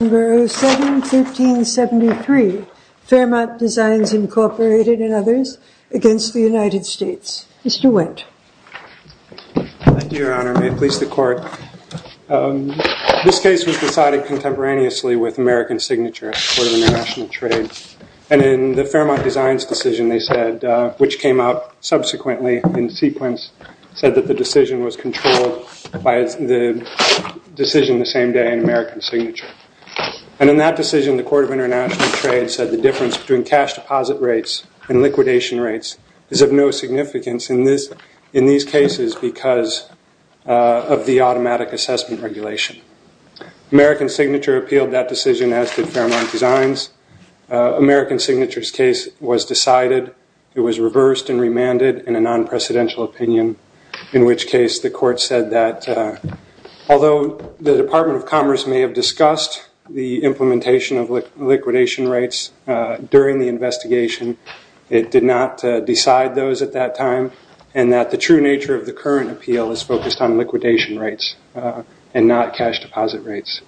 Number 07-1373, Fairmont Designs Incorporated and others, against the United States. Mr. Wendt. Thank you, Your Honor. May it please the Court. This case was decided contemporaneously with American Signature at the Court of International Trade. And in the Fairmont Designs decision, they said, which came out subsequently in sequence, said that the decision was controlled by the decision the same day in American Signature. And in that decision, the Court of International Trade said the difference between cash deposit rates and liquidation rates is of no significance in these cases because of the automatic assessment regulation. American Signature appealed that decision as did Fairmont Designs. American Signature's case was decided. It was reversed and remanded in a non-precedential opinion, in which case the Court said that although the Department of Commerce may have discussed the implementation of liquidation rates during the investigation, it did not decide those at that time, and that the true nature of the current appeal is focused on liquidation rates and not cash deposit rates.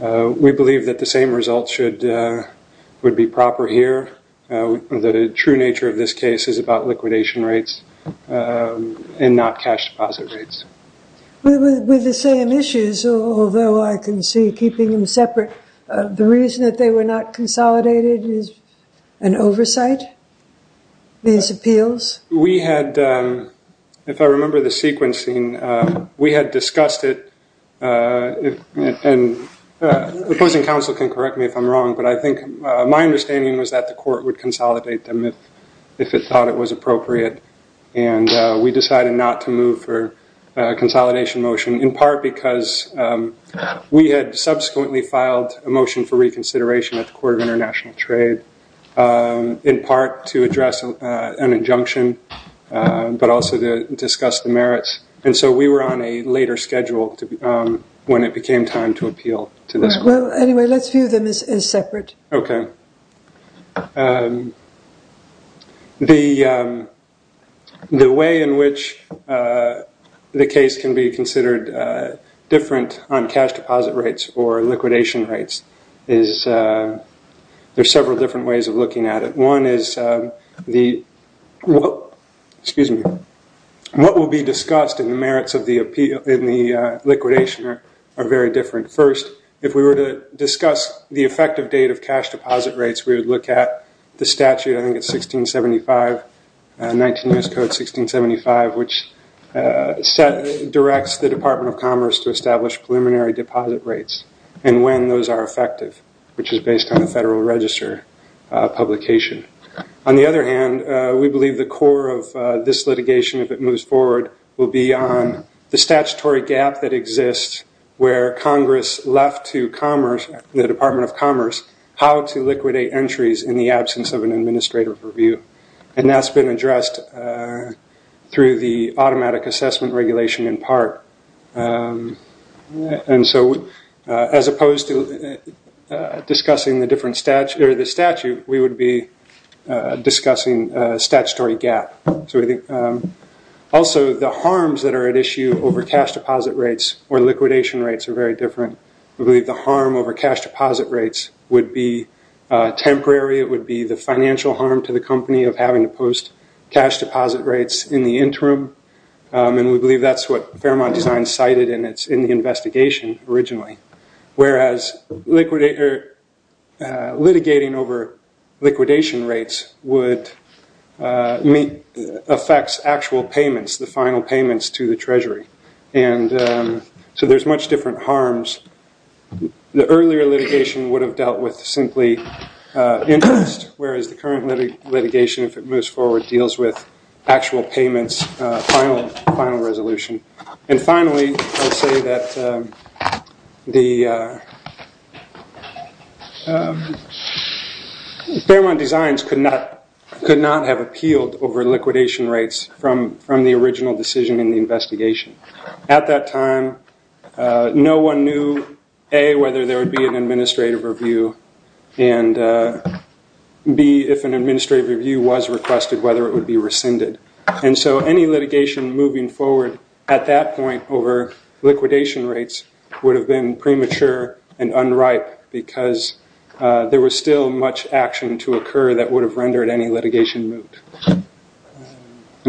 We believe that the same results would be proper here. The true nature of this case is about liquidation rates and not cash deposit rates. With the same issues, although I can see keeping them separate, the reason that they were not consolidated is an oversight, these appeals? We had, if I remember the sequencing, we had discussed it. And the opposing counsel can correct me if I'm wrong, but I think my understanding was that the court would consolidate them if it thought it was appropriate. And we decided not to move for a consolidation motion, in part because we had subsequently filed a motion for reconsideration at the Court of International Trade, in part to address an injunction, but also to discuss the merits. And so we were on a later schedule when it became time to appeal to this court. Well, anyway, let's view them as separate. OK. The way in which the case can be considered different on cash deposit rates or liquidation rates is there's several different ways of looking at it. One is the, excuse me, what will be discussed in the merits of the liquidation are very different. First, if we were to discuss the effective date of cash deposit rates, we would look at the statute, I think it's 1675, 19 U.S. Code 1675, which directs the Department of Commerce to establish preliminary deposit rates and when those are effective, which is based on the Federal Register publication. On the other hand, we believe the core of this litigation, if it moves forward, will be on the statutory gap that Congress left to Commerce, the Department of Commerce, how to liquidate entries in the absence of an administrative review. And that's been addressed through the automatic assessment regulation in part. And so as opposed to discussing the statute, we would be discussing statutory gap. Also, the harms that are at issue over cash deposit rates or liquidation rates are very different. We believe the harm over cash deposit rates would be temporary. It would be the financial harm to the company of having to post cash deposit rates in the interim. And we believe that's what Fairmont Design cited and it's in the investigation originally. Whereas, litigating over liquidation rates would affect actual payments, the final payments to the Treasury. And so there's much different harms. The earlier litigation would have dealt with simply interest, whereas the current litigation, if it moves forward, deals with actual payments, final resolution. And finally, I'll say that Fairmont Designs could not have appealed over liquidation rates from the original decision in the investigation. At that time, no one knew, A, whether there would be an administrative review, and B, if an administrative review was requested, whether it would be rescinded. And so any litigation moving forward at that point over liquidation rates would have been premature and unripe because there was still much action to occur that would have rendered any litigation moot. And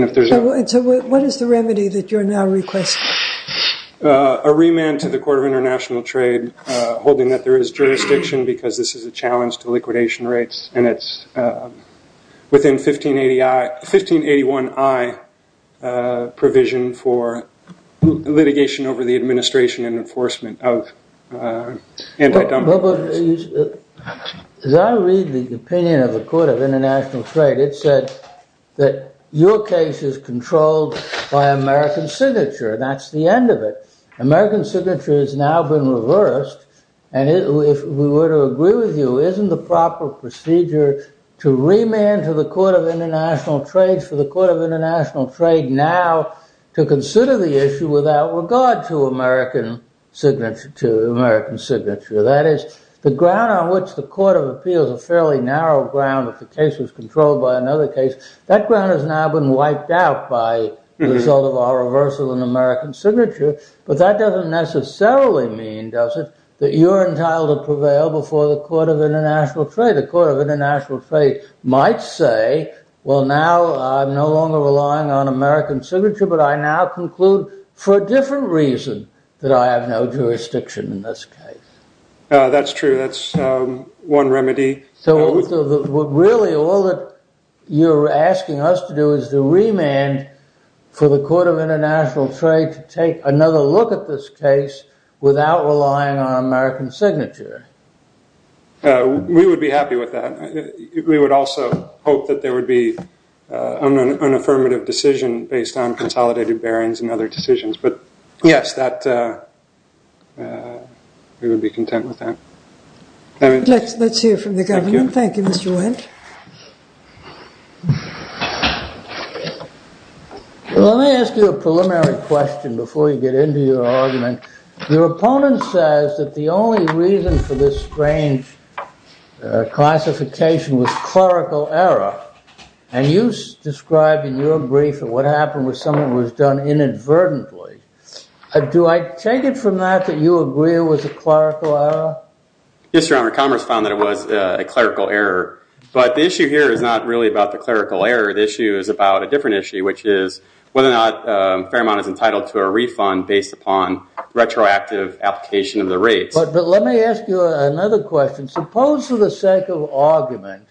if there's a- So what is the remedy that you're now requesting? A remand to the Court of International Trade holding that there is jurisdiction because this is a challenge to liquidation rates and it's within 1581I provision for litigation over the administration and enforcement of anti-dumping. As I read the opinion of the Court of International Trade, it said that your case is controlled by American signature. That's the end of it. American signature has now been reversed. And if we were to agree with you, isn't the proper procedure to remand to the Court of International Trade, for the Court of International Trade now to consider the issue without regard to American signature? That is, the ground on which the Court of Appeals, a fairly narrow ground, if the case is controlled by another case, that ground has now been wiped out by the result of our reversal in American signature. But that doesn't necessarily mean, does it, that you're entitled to prevail before the Court of International Trade. The Court of International Trade might say, well, now I'm no longer relying on American signature, but I now conclude for a different reason that I have no jurisdiction in this case. That's true. That's one remedy. So really, all that you're asking us to do is to remand for the Court of International Trade to take another look at this case without relying on American signature. We would be happy with that. We would also hope that there would be an affirmative decision based on consolidated bearings and other decisions. But yes, we would be content with that. Let's hear from the governor. Thank you, Mr. Wendt. Let me ask you a preliminary question before you get into your argument. Your opponent says that the only reason for this strange classification was clerical error. And you described in your brief that what happened with someone was done inadvertently. Do I take it from that that you agree it was a clerical error? Yes, Your Honor, Commerce found that it was a clerical error. But the issue here is not really about the clerical error. The issue is about a different issue, which is whether or not Fairmont is entitled to a refund based upon retroactive application of the rates. But let me ask you another question. Suppose, for the sake of argument,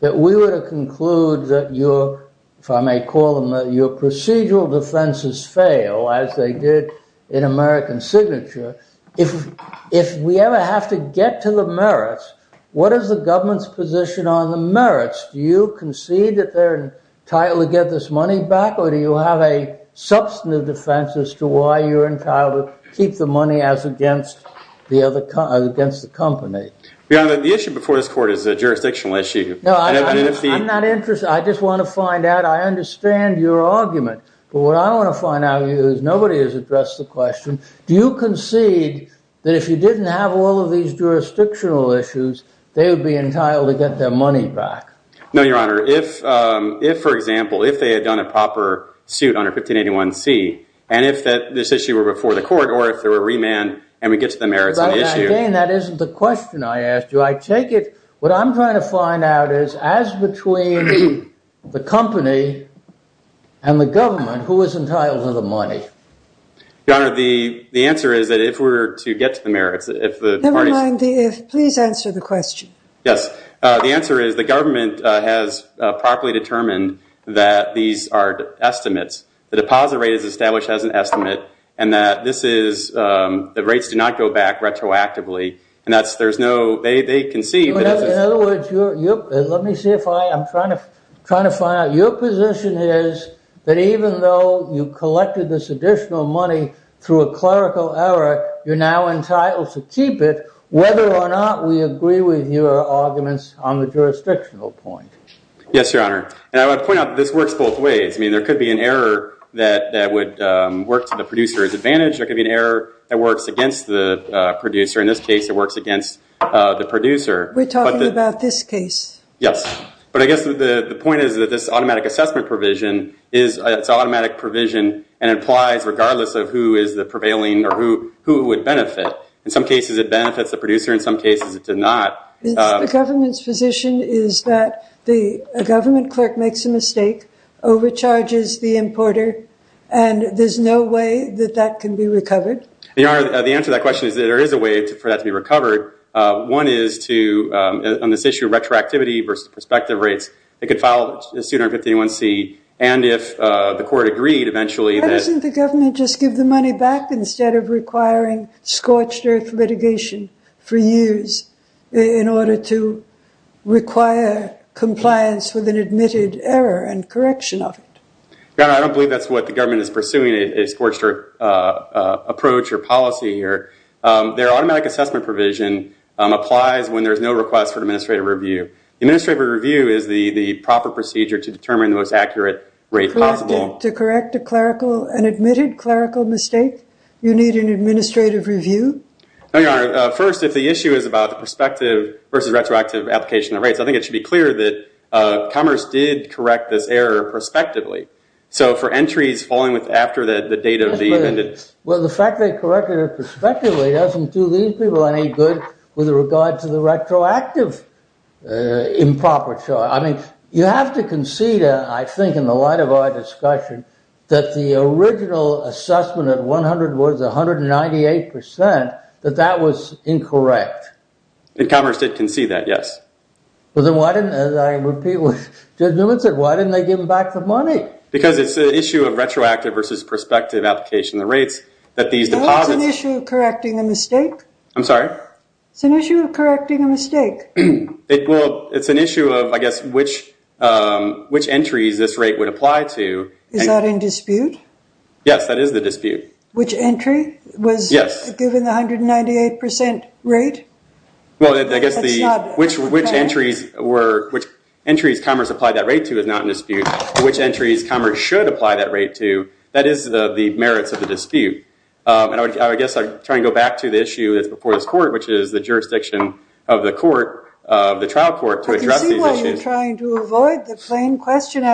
that we were to conclude that your, if I may call them, your procedural defenses fail, as they did in American Signature, if we ever have to get to the merits, what is the government's position on the merits? Do you concede that they're entitled to get this money back, or do you have a substantive defense as to why you're entitled to keep the money as against the company? Your Honor, the issue before this court is a jurisdictional issue. No, I'm not interested. I just want to find out. I understand your argument. But what I want to find out is nobody has addressed the question. Do you concede that if you didn't have all of these jurisdictional issues, they would be entitled to get their money back? No, Your Honor. If, for example, if they had done a proper suit under 1581c, and if this issue were before the court, or if there were remand, and we get to the merits of the issue. That isn't the question I asked you. I take it what I'm trying to find out is, as between the company and the government, who is entitled to the money? Your Honor, the answer is that if we're to get to the merits, if the parties- Never mind the if. Please answer the question. Yes. The answer is the government has properly determined that these are estimates. The deposit rate is established as an estimate, and that this is, the rates do not go back retroactively. And that's, there's no, they concede that this is- In other words, let me see if I, I'm trying to find out. Your position is that even though you collected this additional money through a clerical error, you're now entitled to keep it, whether or not we agree with your arguments on the jurisdictional point. Yes, Your Honor. And I want to point out that this works both ways. I mean, there could be an error that would work to the producer as advantage. There could be an error that works against the producer. In this case, it works against the producer. We're talking about this case. Yes. But I guess the point is that this automatic assessment provision is, it's an automatic provision, and it applies regardless of who is the prevailing or who it would benefit. In some cases, it benefits the producer. In some cases, it does not. The government's position is that the government clerk makes a mistake, overcharges the importer, and there's no way that that can be recovered. Your Honor, the answer to that question is that there is a way for that to be recovered. One is to, on this issue of retroactivity versus prospective rates, it could file a suit under 151C. And if the court agreed, eventually, that's Why doesn't the government just give the money back instead of requiring scorched-earth litigation for years in order to require compliance with an admitted error and correction of it? Your Honor, I don't believe that's what the government is pursuing, a scorched-earth approach or policy here. Their automatic assessment provision applies when there is no request for administrative review. Administrative review is the proper procedure to determine the most accurate rate possible. To correct a clerical, an admitted clerical mistake, you need an administrative review? No, Your Honor. First, if the issue is about the prospective versus retroactive application of rates, I think it should be clear that Commerce did correct this error prospectively. So for entries following after the date of the amended. Well, the fact they corrected it prospectively doesn't do these people any good with regard to the retroactive improper charge. I mean, you have to concede, I think, in the light of our discussion, that the original assessment at 100 was 198%, that that was incorrect. And Commerce did concede that, yes. But then why didn't, as I repeat what Judge Newman said, why didn't they give back the money? Because it's the issue of retroactive versus prospective application of the rates that these deposits. Well, it's an issue of correcting a mistake. I'm sorry? It's an issue of correcting a mistake. Well, it's an issue of, I guess, which entries this rate would apply to. Is that in dispute? Yes, that is the dispute. Which entry was given the 198% rate? Well, I guess which entries Commerce applied that rate to is not in dispute. Which entries Commerce should apply that rate to, that is the merits of the dispute. And I guess I'd try and go back to the issue that's before this court, which is the jurisdiction of the court, the trial court, to address these issues. I can see why you're trying to avoid the plain question.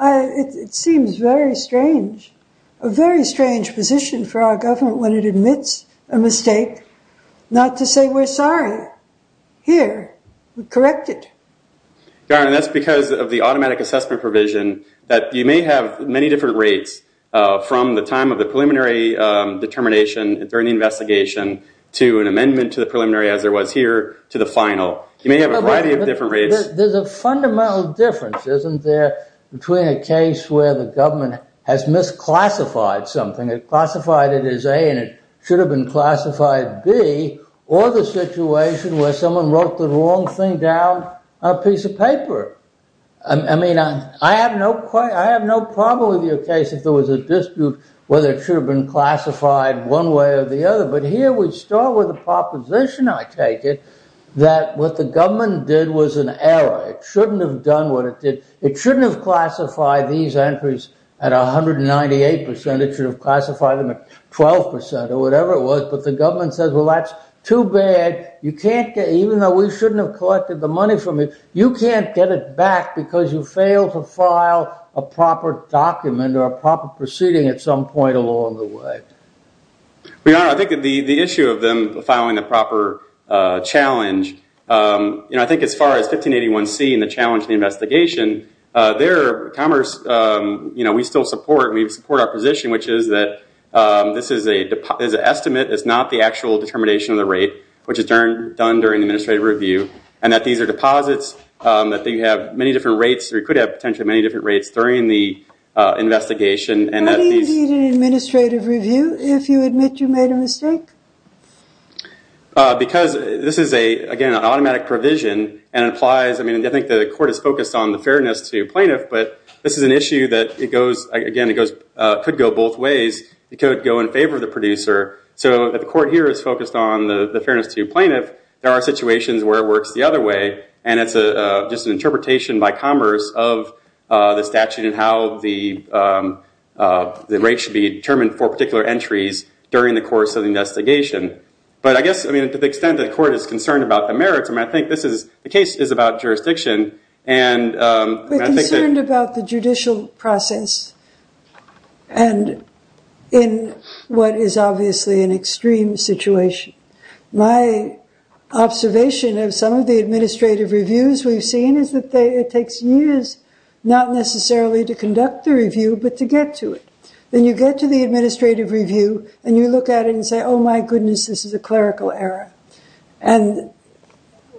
It seems very strange, a very strange position for our government when it admits a mistake, not to say we're sorry. Here, we correct it. Garland, that's because of the automatic assessment provision that you may have many different rates from the time of the preliminary determination during the investigation to an amendment to the preliminary, as there was here, to the final. You may have a variety of different rates. There's a fundamental difference, isn't there, between a case where the government has misclassified something, it classified it as A and it should have been classified B, or the situation where someone wrote the wrong thing down on a piece of paper. I mean, I have no problem with your case if there was a dispute whether it should have been classified one way or the other. But here, we start with a proposition, I take it, that what the government did was an error. It shouldn't have done what it did. It shouldn't have classified these entries at 198%. It should have classified them at 12% or whatever it was. But the government says, well, that's too bad. Even though we shouldn't have collected the money from it, you can't get it back because you fail to file a proper document or a proper proceeding at some point along the way. Your Honor, I think the issue of them filing the proper challenge, I think as far as 1581C and the challenge of the investigation, there, Commerce, we still support our position, which is that this is an estimate. It's not the actual determination of the rate, which is done during the administrative review, and that these are deposits, that you have many different rates, or you could have potentially many different rates during the investigation. And that these- Why do you need an administrative review if you admit you made a mistake? Because this is, again, an automatic provision, and it implies, I mean, I think the court is focused on the fairness to plaintiff. It could go in favor of the producer. So the court here is focused on the fairness to plaintiff. There are situations where it works the other way, and it's just an interpretation by Commerce of the statute and how the rate should be determined for particular entries during the course of the investigation. But I guess, I mean, to the extent that the court is concerned about the merits, I mean, I think the case is about jurisdiction, and I think that- We're concerned about the judicial process, and in what is obviously an extreme situation. My observation of some of the administrative reviews we've seen is that it takes years, not necessarily to conduct the review, but to get to it. Then you get to the administrative review, and you look at it and say, oh my goodness, this is a clerical error. And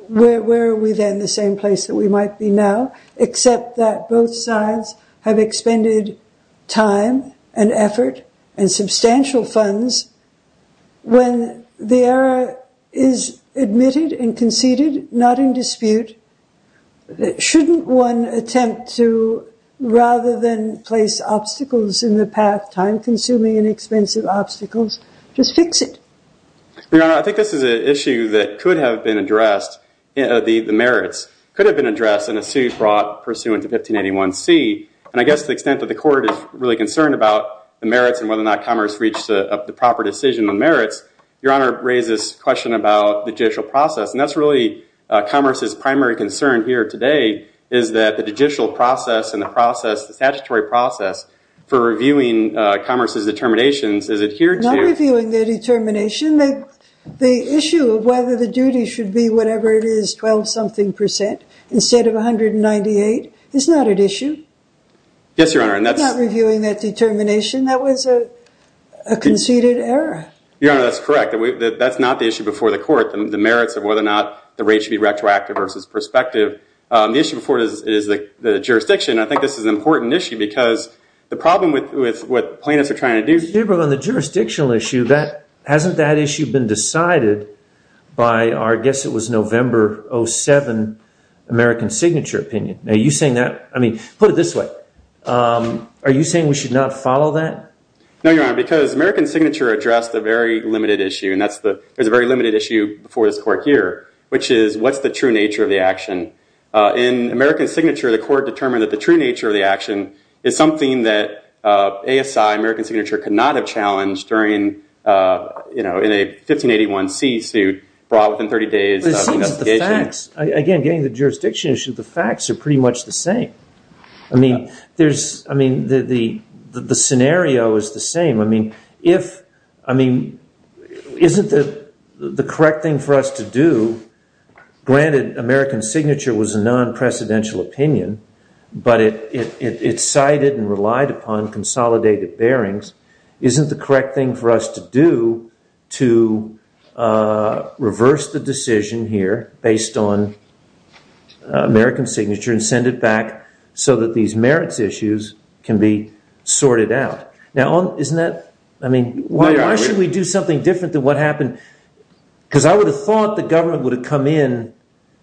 where are we then? The same place that we might be now, except that both sides have expended time and effort and substantial funds. When the error is admitted and conceded, not in dispute, shouldn't one attempt to, rather than place obstacles in the path, time-consuming and expensive obstacles, just fix it? Your Honor, I think this is an issue that could have been addressed, the merits could have been pursuant to 1581C. And I guess to the extent that the court is really concerned about the merits and whether or not Commerce reached the proper decision on merits, Your Honor raises a question about the judicial process. And that's really Commerce's primary concern here today, is that the judicial process and the process, the statutory process, for reviewing Commerce's determinations is adhered to. Not reviewing their determination. The issue of whether the duty should be whatever it is, 12-something percent, instead of 198, is not an issue. Yes, Your Honor. Not reviewing that determination. That was a conceded error. Your Honor, that's correct. That's not the issue before the court, the merits of whether or not the rate should be retroactive versus prospective. The issue before it is the jurisdiction. I think this is an important issue because the problem with what plaintiffs are trying to do is Gabriel, on the jurisdictional issue, hasn't that issue been decided by, I guess it was November 07, American Signature opinion. Are you saying that? I mean, put it this way. Are you saying we should not follow that? No, Your Honor, because American Signature addressed a very limited issue. And there's a very limited issue before this court here, which is, what's the true nature of the action? In American Signature, the court determined that the true nature of the action is something that ASI, American Signature, could not have challenged in a 1581C suit brought within 30 days of investigation. Again, getting to the jurisdiction issue, the facts are pretty much the same. I mean, the scenario is the same. I mean, isn't the correct thing for us to do, granted American Signature was a non-precedential opinion, but it cited and relied upon consolidated bearings, isn't the correct thing for us to do to reverse the decision here based on American Signature and send it back so that these merits issues can be sorted out? Now, isn't that, I mean, why should we do something different than what happened? Because I would have thought the government would have come in.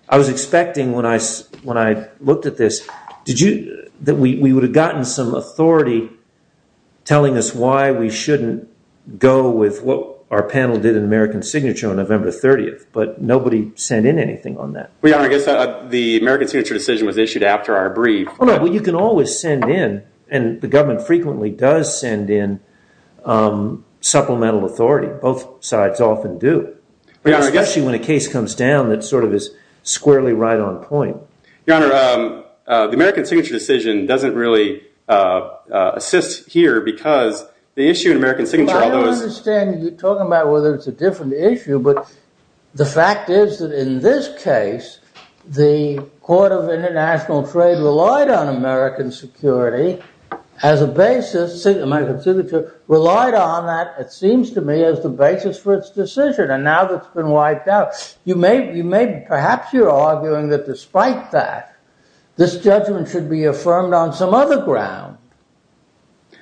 I was expecting when I looked at this that we would have gotten some authority telling us why we shouldn't go with what our panel did in American Signature on November 30th. But nobody sent in anything on that. Well, Your Honor, I guess the American Signature decision was issued after our brief. Well, you can always send in, and the government frequently does send in supplemental authority. Both sides often do, especially when a case comes down that sort of is squarely right on point. Your Honor, the American Signature decision doesn't really assist here because the issue in American Signature, although it's I don't understand you talking about whether it's a different issue, but the fact is that in this case, the Court of International Trade relied on American Signature relied on that, it seems to me, as the basis for its decision. And now it's been wiped out. Perhaps you're arguing that despite that, this judgment should be affirmed on some other ground.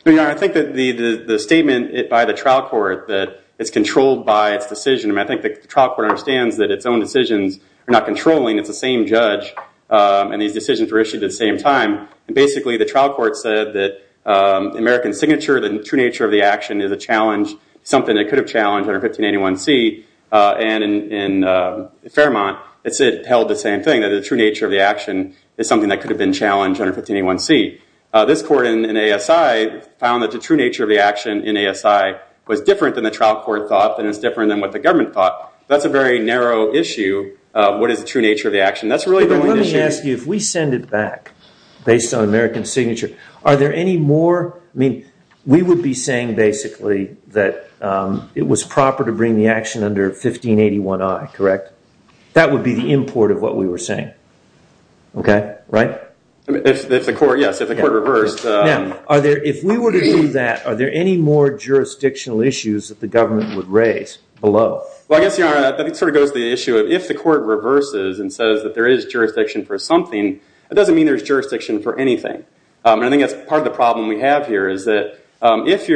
I think that the statement by the trial court that it's controlled by its decision. I think the trial court understands that its own decisions are not controlling. It's the same judge. And these decisions were issued at the same time. Basically, the trial court said that American Signature, the true nature of the action, is a challenge, something that could have challenged under 1581C. And in Fairmont, it held the same thing, that the true nature of the action is something that could have been challenged under 1581C. This court in ASI found that the true nature of the action in ASI was different than the trial court thought and is different than what the government thought. That's a very narrow issue, what is the true nature of the action. That's really the only issue. Let me ask you, if we send it back based on American Signature, are there any more? We would be saying, basically, that it was proper to bring the action under 1581I, correct? That would be the import of what we were saying, right? Yes, if the court reversed. Now, if we were to do that, are there any more jurisdictional issues that the government would raise below? Well, I guess that sort of goes to the issue of, if the court reverses and says that there is jurisdiction for something, that doesn't mean there's jurisdiction for anything. I think that's part of the problem we have here, is that if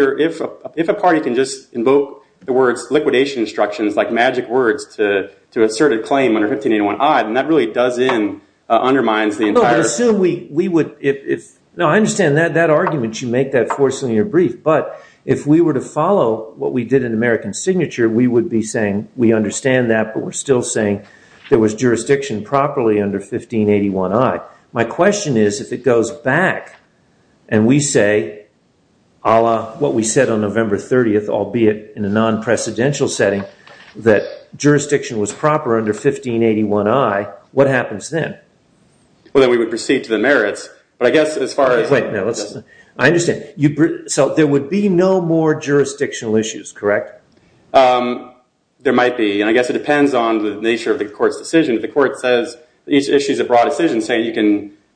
a party can just invoke the words liquidation instructions, like magic words, to assert a claim under 1581I, then that really does in, undermines the entire. No, I assume we would, if, no, I understand that argument, you make that force in your brief. But if we were to follow what we did in American Signature, we would be saying, we understand that, but we're still saying there was jurisdiction properly under 1581I. My question is, if it goes back and we say, a la what we said on November 30, albeit in a non-precedential setting, that jurisdiction was proper under 1581I, what happens then? Well, then we would proceed to the merits. But I guess as far as the merits. I understand. So there would be no more jurisdictional issues, correct? There might be. And I guess it depends on the nature of the court's decision. If the court says each issue is a broad decision,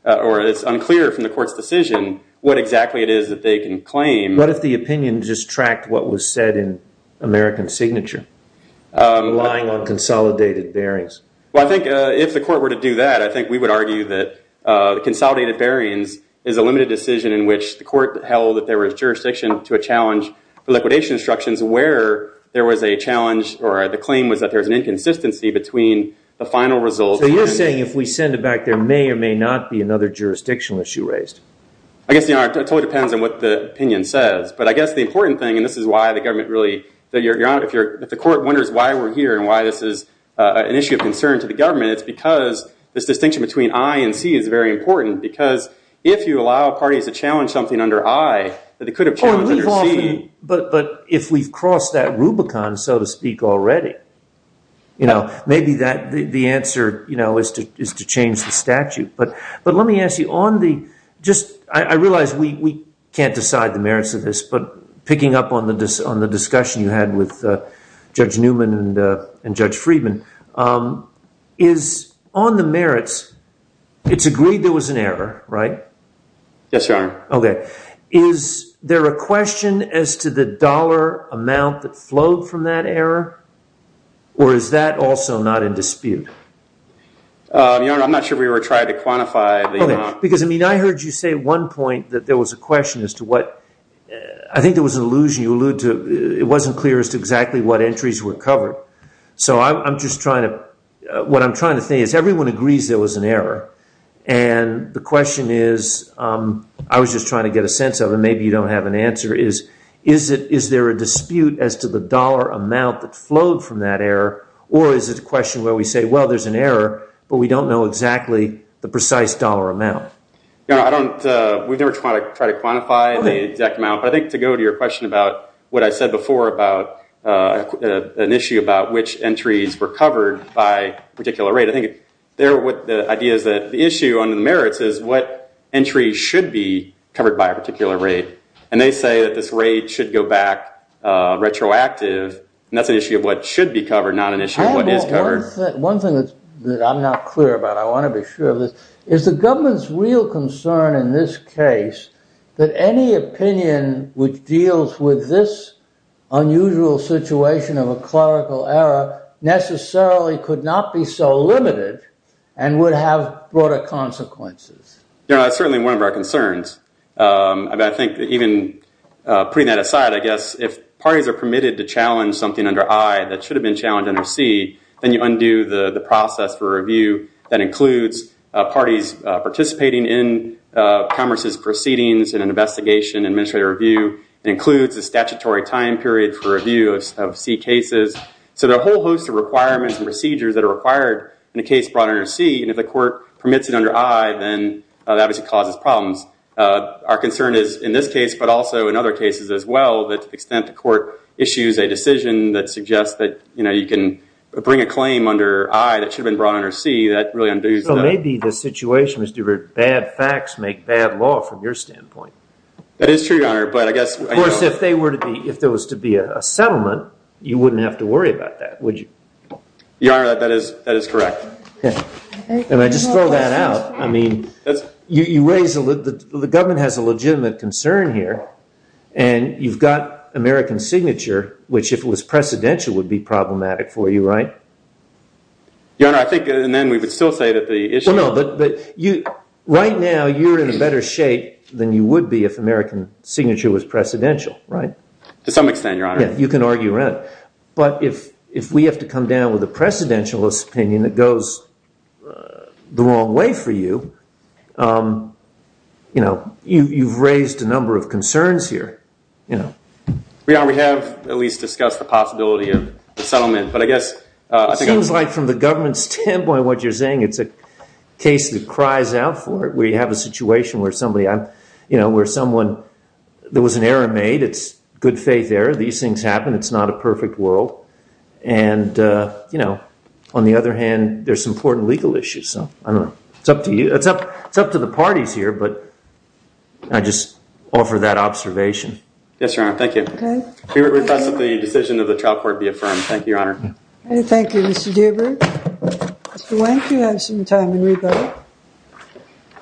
or it's unclear from the court's decision what exactly it is that they can claim. What if the opinion just tracked what was said in American Signature, relying on consolidated bearings? Well, I think if the court were to do that, I think we would argue that the consolidated bearings is a limited decision in which the court held that there was jurisdiction to a challenge for liquidation instructions, where there was a challenge, or the claim was that there's an inconsistency between the final result. So you're saying if we send it back, there may or may not be another jurisdictional issue raised? I guess it totally depends on what the opinion says. But I guess the important thing, and this is why the government really, if the court wonders why we're here and why this is an issue of concern to the government, it's because this distinction between I and C is very important. Because if you allow parties to challenge something under I, that they could have challenged under C. But if we've crossed that Rubicon, so to speak, already, maybe the answer is to change the statute. But let me ask you, I realize we can't decide the merits of this, but picking up on the discussion you had with Judge Newman and Judge Friedman, is on the merits, it's agreed there was an error, right? Yes, Your Honor. OK. Is there a question as to the dollar amount that flowed from that error? Or is that also not in dispute? Your Honor, I'm not sure we were trying to quantify the amount. Because I mean, I heard you say at one point that there was a question as to what, I think there was an allusion you alluded to. It wasn't clear as to exactly what entries were covered. So I'm just trying to, what I'm trying to say is everyone agrees there was an error. And the question is, I was just trying to get a sense of it, maybe you don't have an answer, is there a dispute as to the dollar amount that flowed from that error? Or is it a question where we say, well, there's an error, but we don't know exactly the precise dollar amount? Your Honor, I don't, we've never tried to quantify the exact amount. But I think to go to your question about what I said before about an issue about which entries were covered by a particular rate. I think the idea is that the issue under the merits is what entries should be covered by a particular rate. And they say that this rate should go back retroactive. And that's an issue of what should be covered, not an issue of what is covered. One thing that I'm not clear about, I want to be sure of this, is the government's real concern in this case that any opinion which deals with this unusual situation of a clerical error necessarily could not be so limited and would have broader consequences. Your Honor, that's certainly one of our concerns. I think even putting that aside, I guess if parties are permitted to challenge something under I that should have been challenged under C, then you undo the process for review that includes parties participating in Congress's proceedings in an investigation, administrative review, and includes a statutory time period for review of C cases. So there are a whole host of requirements and procedures that are required in a case brought under C. And if the court permits it under I, then that obviously causes problems. Our concern is in this case, but also in other cases as well, that to the extent the court issues a decision that suggests that you can bring a claim under I that should have been brought under C, that really undoes that. So maybe the situation is that bad facts make bad law from your standpoint. That is true, Your Honor, but I guess I don't know. Of course, if there was to be a settlement, you wouldn't have to worry about that, would you? Your Honor, that is correct. And I just throw that out. I mean, the government has a legitimate concern here, and you've got American signature, which if it was precedential would be problematic for you, right? Your Honor, I think, and then we would still say that the issue is that. No, no, but right now you're in a better shape than you would be if American signature was precedential, right? To some extent, Your Honor. Yeah, you can argue around it. But if we have to come down with a precedentialist opinion that goes the wrong way for you, you've raised a number of concerns here. Your Honor, we have at least discussed the possibility of a settlement. It seems like from the government's standpoint, what you're saying, it's a case that cries out for it, where you have a situation where somebody, where someone, there was an error made. It's good faith error. These things happen. It's not a perfect world. And on the other hand, there's some important legal issues. So I don't know. It's up to you. It's up to the parties here, but I just offer that observation. Yes, Your Honor, thank you. We request that the decision of the trial court be affirmed. Thank you, Your Honor. Thank you, Mr. Deaver. Mr. Wendt, you have some time in rebuttal.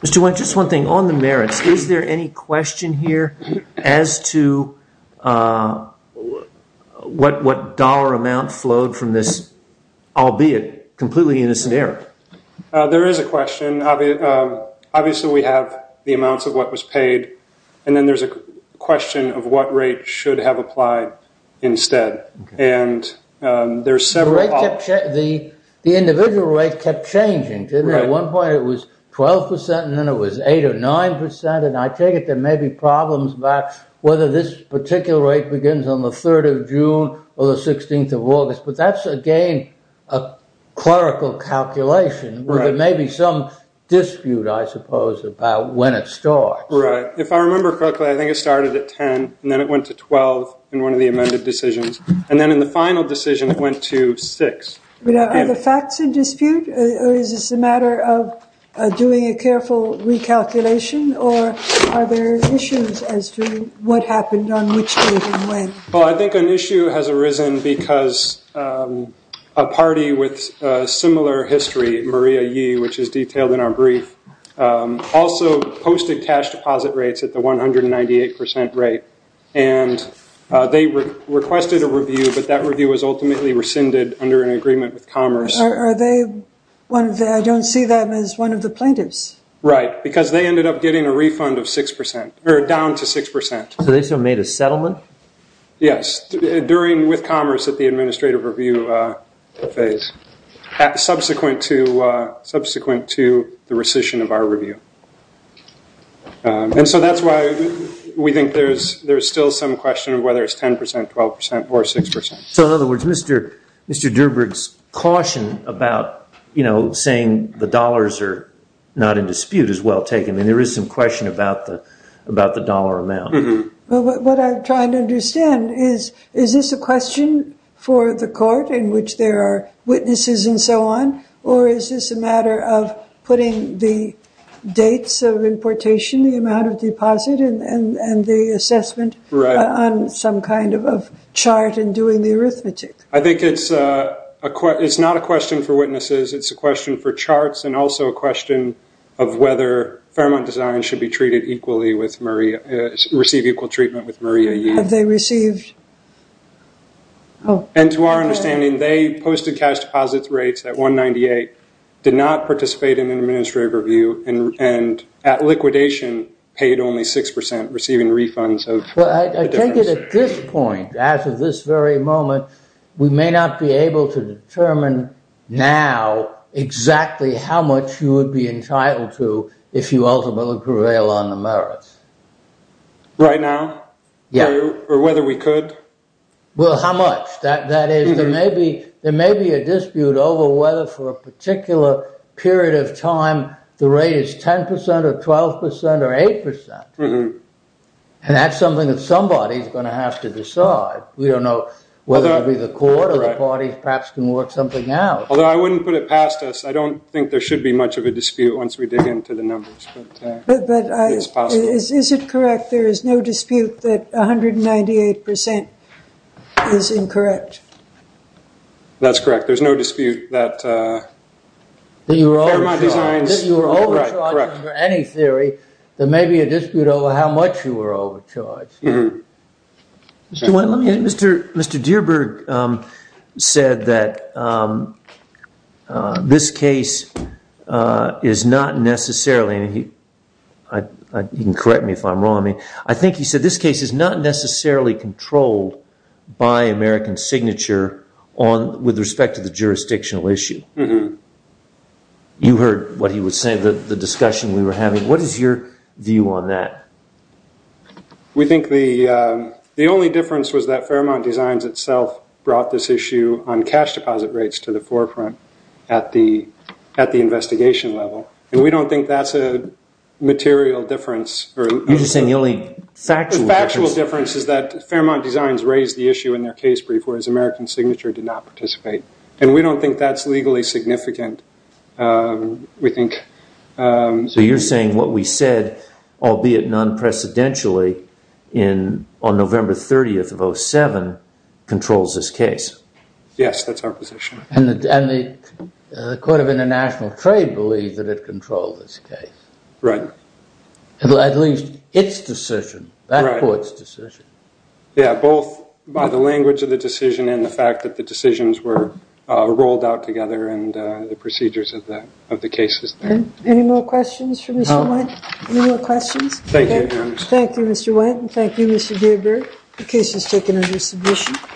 Mr. Wendt, just one thing. On the merits, is there any question here as to what dollar amount flowed from this, albeit completely innocent error? There is a question. Obviously, we have the amounts of what was paid. And then there's a question of what rate should have applied instead. And there's several options. The individual rate kept changing, didn't it? At one point, it was 12%, and then it was 8% or 9%. And I take it there may be problems about whether this particular rate begins on the 3rd of June or the 16th of August. But that's, again, a clerical calculation, where there may be some dispute, I suppose, about when it starts. Right. If I remember correctly, I think it started at 10, and then it went to 12 in one of the amended decisions. And then in the final decision, it went to 6. Are the facts in dispute, or is this a matter of doing a careful recalculation? Or are there issues as to what happened on which day and when? Well, I think an issue has arisen because a party with a similar history, Maria Yee, which is detailed in our brief, also posted cash deposit rates at the 198% rate. And they requested a review, but that review was ultimately rescinded under an agreement with Commerce. Are they one of the, I don't see them as one of the plaintiffs. Right, because they ended up getting a refund of 6%, or down to 6%. So they still made a settlement? Yes, during with Commerce at the administrative review phase, subsequent to the rescission of our review. And so that's why we think there's still some question of whether it's 10%, 12%, or 6%. So in other words, Mr. Durburg's caution about saying the dollars are not in dispute is well taken. And there is some question about the dollar amount. Well, what I'm trying to understand is, is this a question for the court in which there are witnesses and so on? Or is this a matter of putting the dates of importation, the amount of deposit, and the assessment on some kind of chart and doing the arithmetic? I think it's not a question for witnesses. It's a question for charts, and also a question of whether Fairmont Design should be treated equally with Maria, receive equal treatment with Maria Yee. Have they received? And to our understanding, they posted cash deposits rates at $198,000, did not participate in an administrative review, and at liquidation, paid only 6%, receiving refunds of the difference. Well, I take it at this point, as of this very moment, we may not be able to determine now exactly how much you would be entitled to if you ultimately prevail on the merits. Right now? Yeah. Or whether we could? Well, how much? That is, there may be a dispute over whether for a particular period of time the rate is 10% or 12% or 8%. And that's something that somebody is going to have to decide. We don't know whether it'll be the court or the parties perhaps can work something out. Although I wouldn't put it past us. I don't think there should be much of a dispute once we dig into the numbers. But is it correct there is no dispute that 198% is incorrect? That's correct. There's no dispute that thermo designs are correct. If you were overcharged under any theory, there may be a dispute over how much you were overcharged. Let me add, Mr. Dearburg said that this case is not necessarily, and you can correct me if I'm wrong, I think he said this case is not necessarily controlled by American Signature with respect to the jurisdictional issue. You heard what he was saying, the discussion we were having. What is your view on that? We think the only difference was that Fairmont Designs itself brought this issue on cash deposit rates to the forefront at the investigation level. And we don't think that's a material difference. You're just saying the only factual difference. The factual difference is that Fairmont Designs raised the issue in their case brief, whereas American Signature did not participate. And we don't think that's legally significant. So you're saying what we said, albeit non-precedentially, on November 30th of 07, controls this case. Yes, that's our position. And the Court of International Trade believes that it controls this case. Right. At least its decision, that court's decision. Yeah, both by the language of the decision and the fact that the decisions were rolled out together and the procedures of the cases. Any more questions for Mr. White? Any more questions? Thank you, Your Honor. Thank you, Mr. White. And thank you, Mr. Deardorff. The case is taken under submission.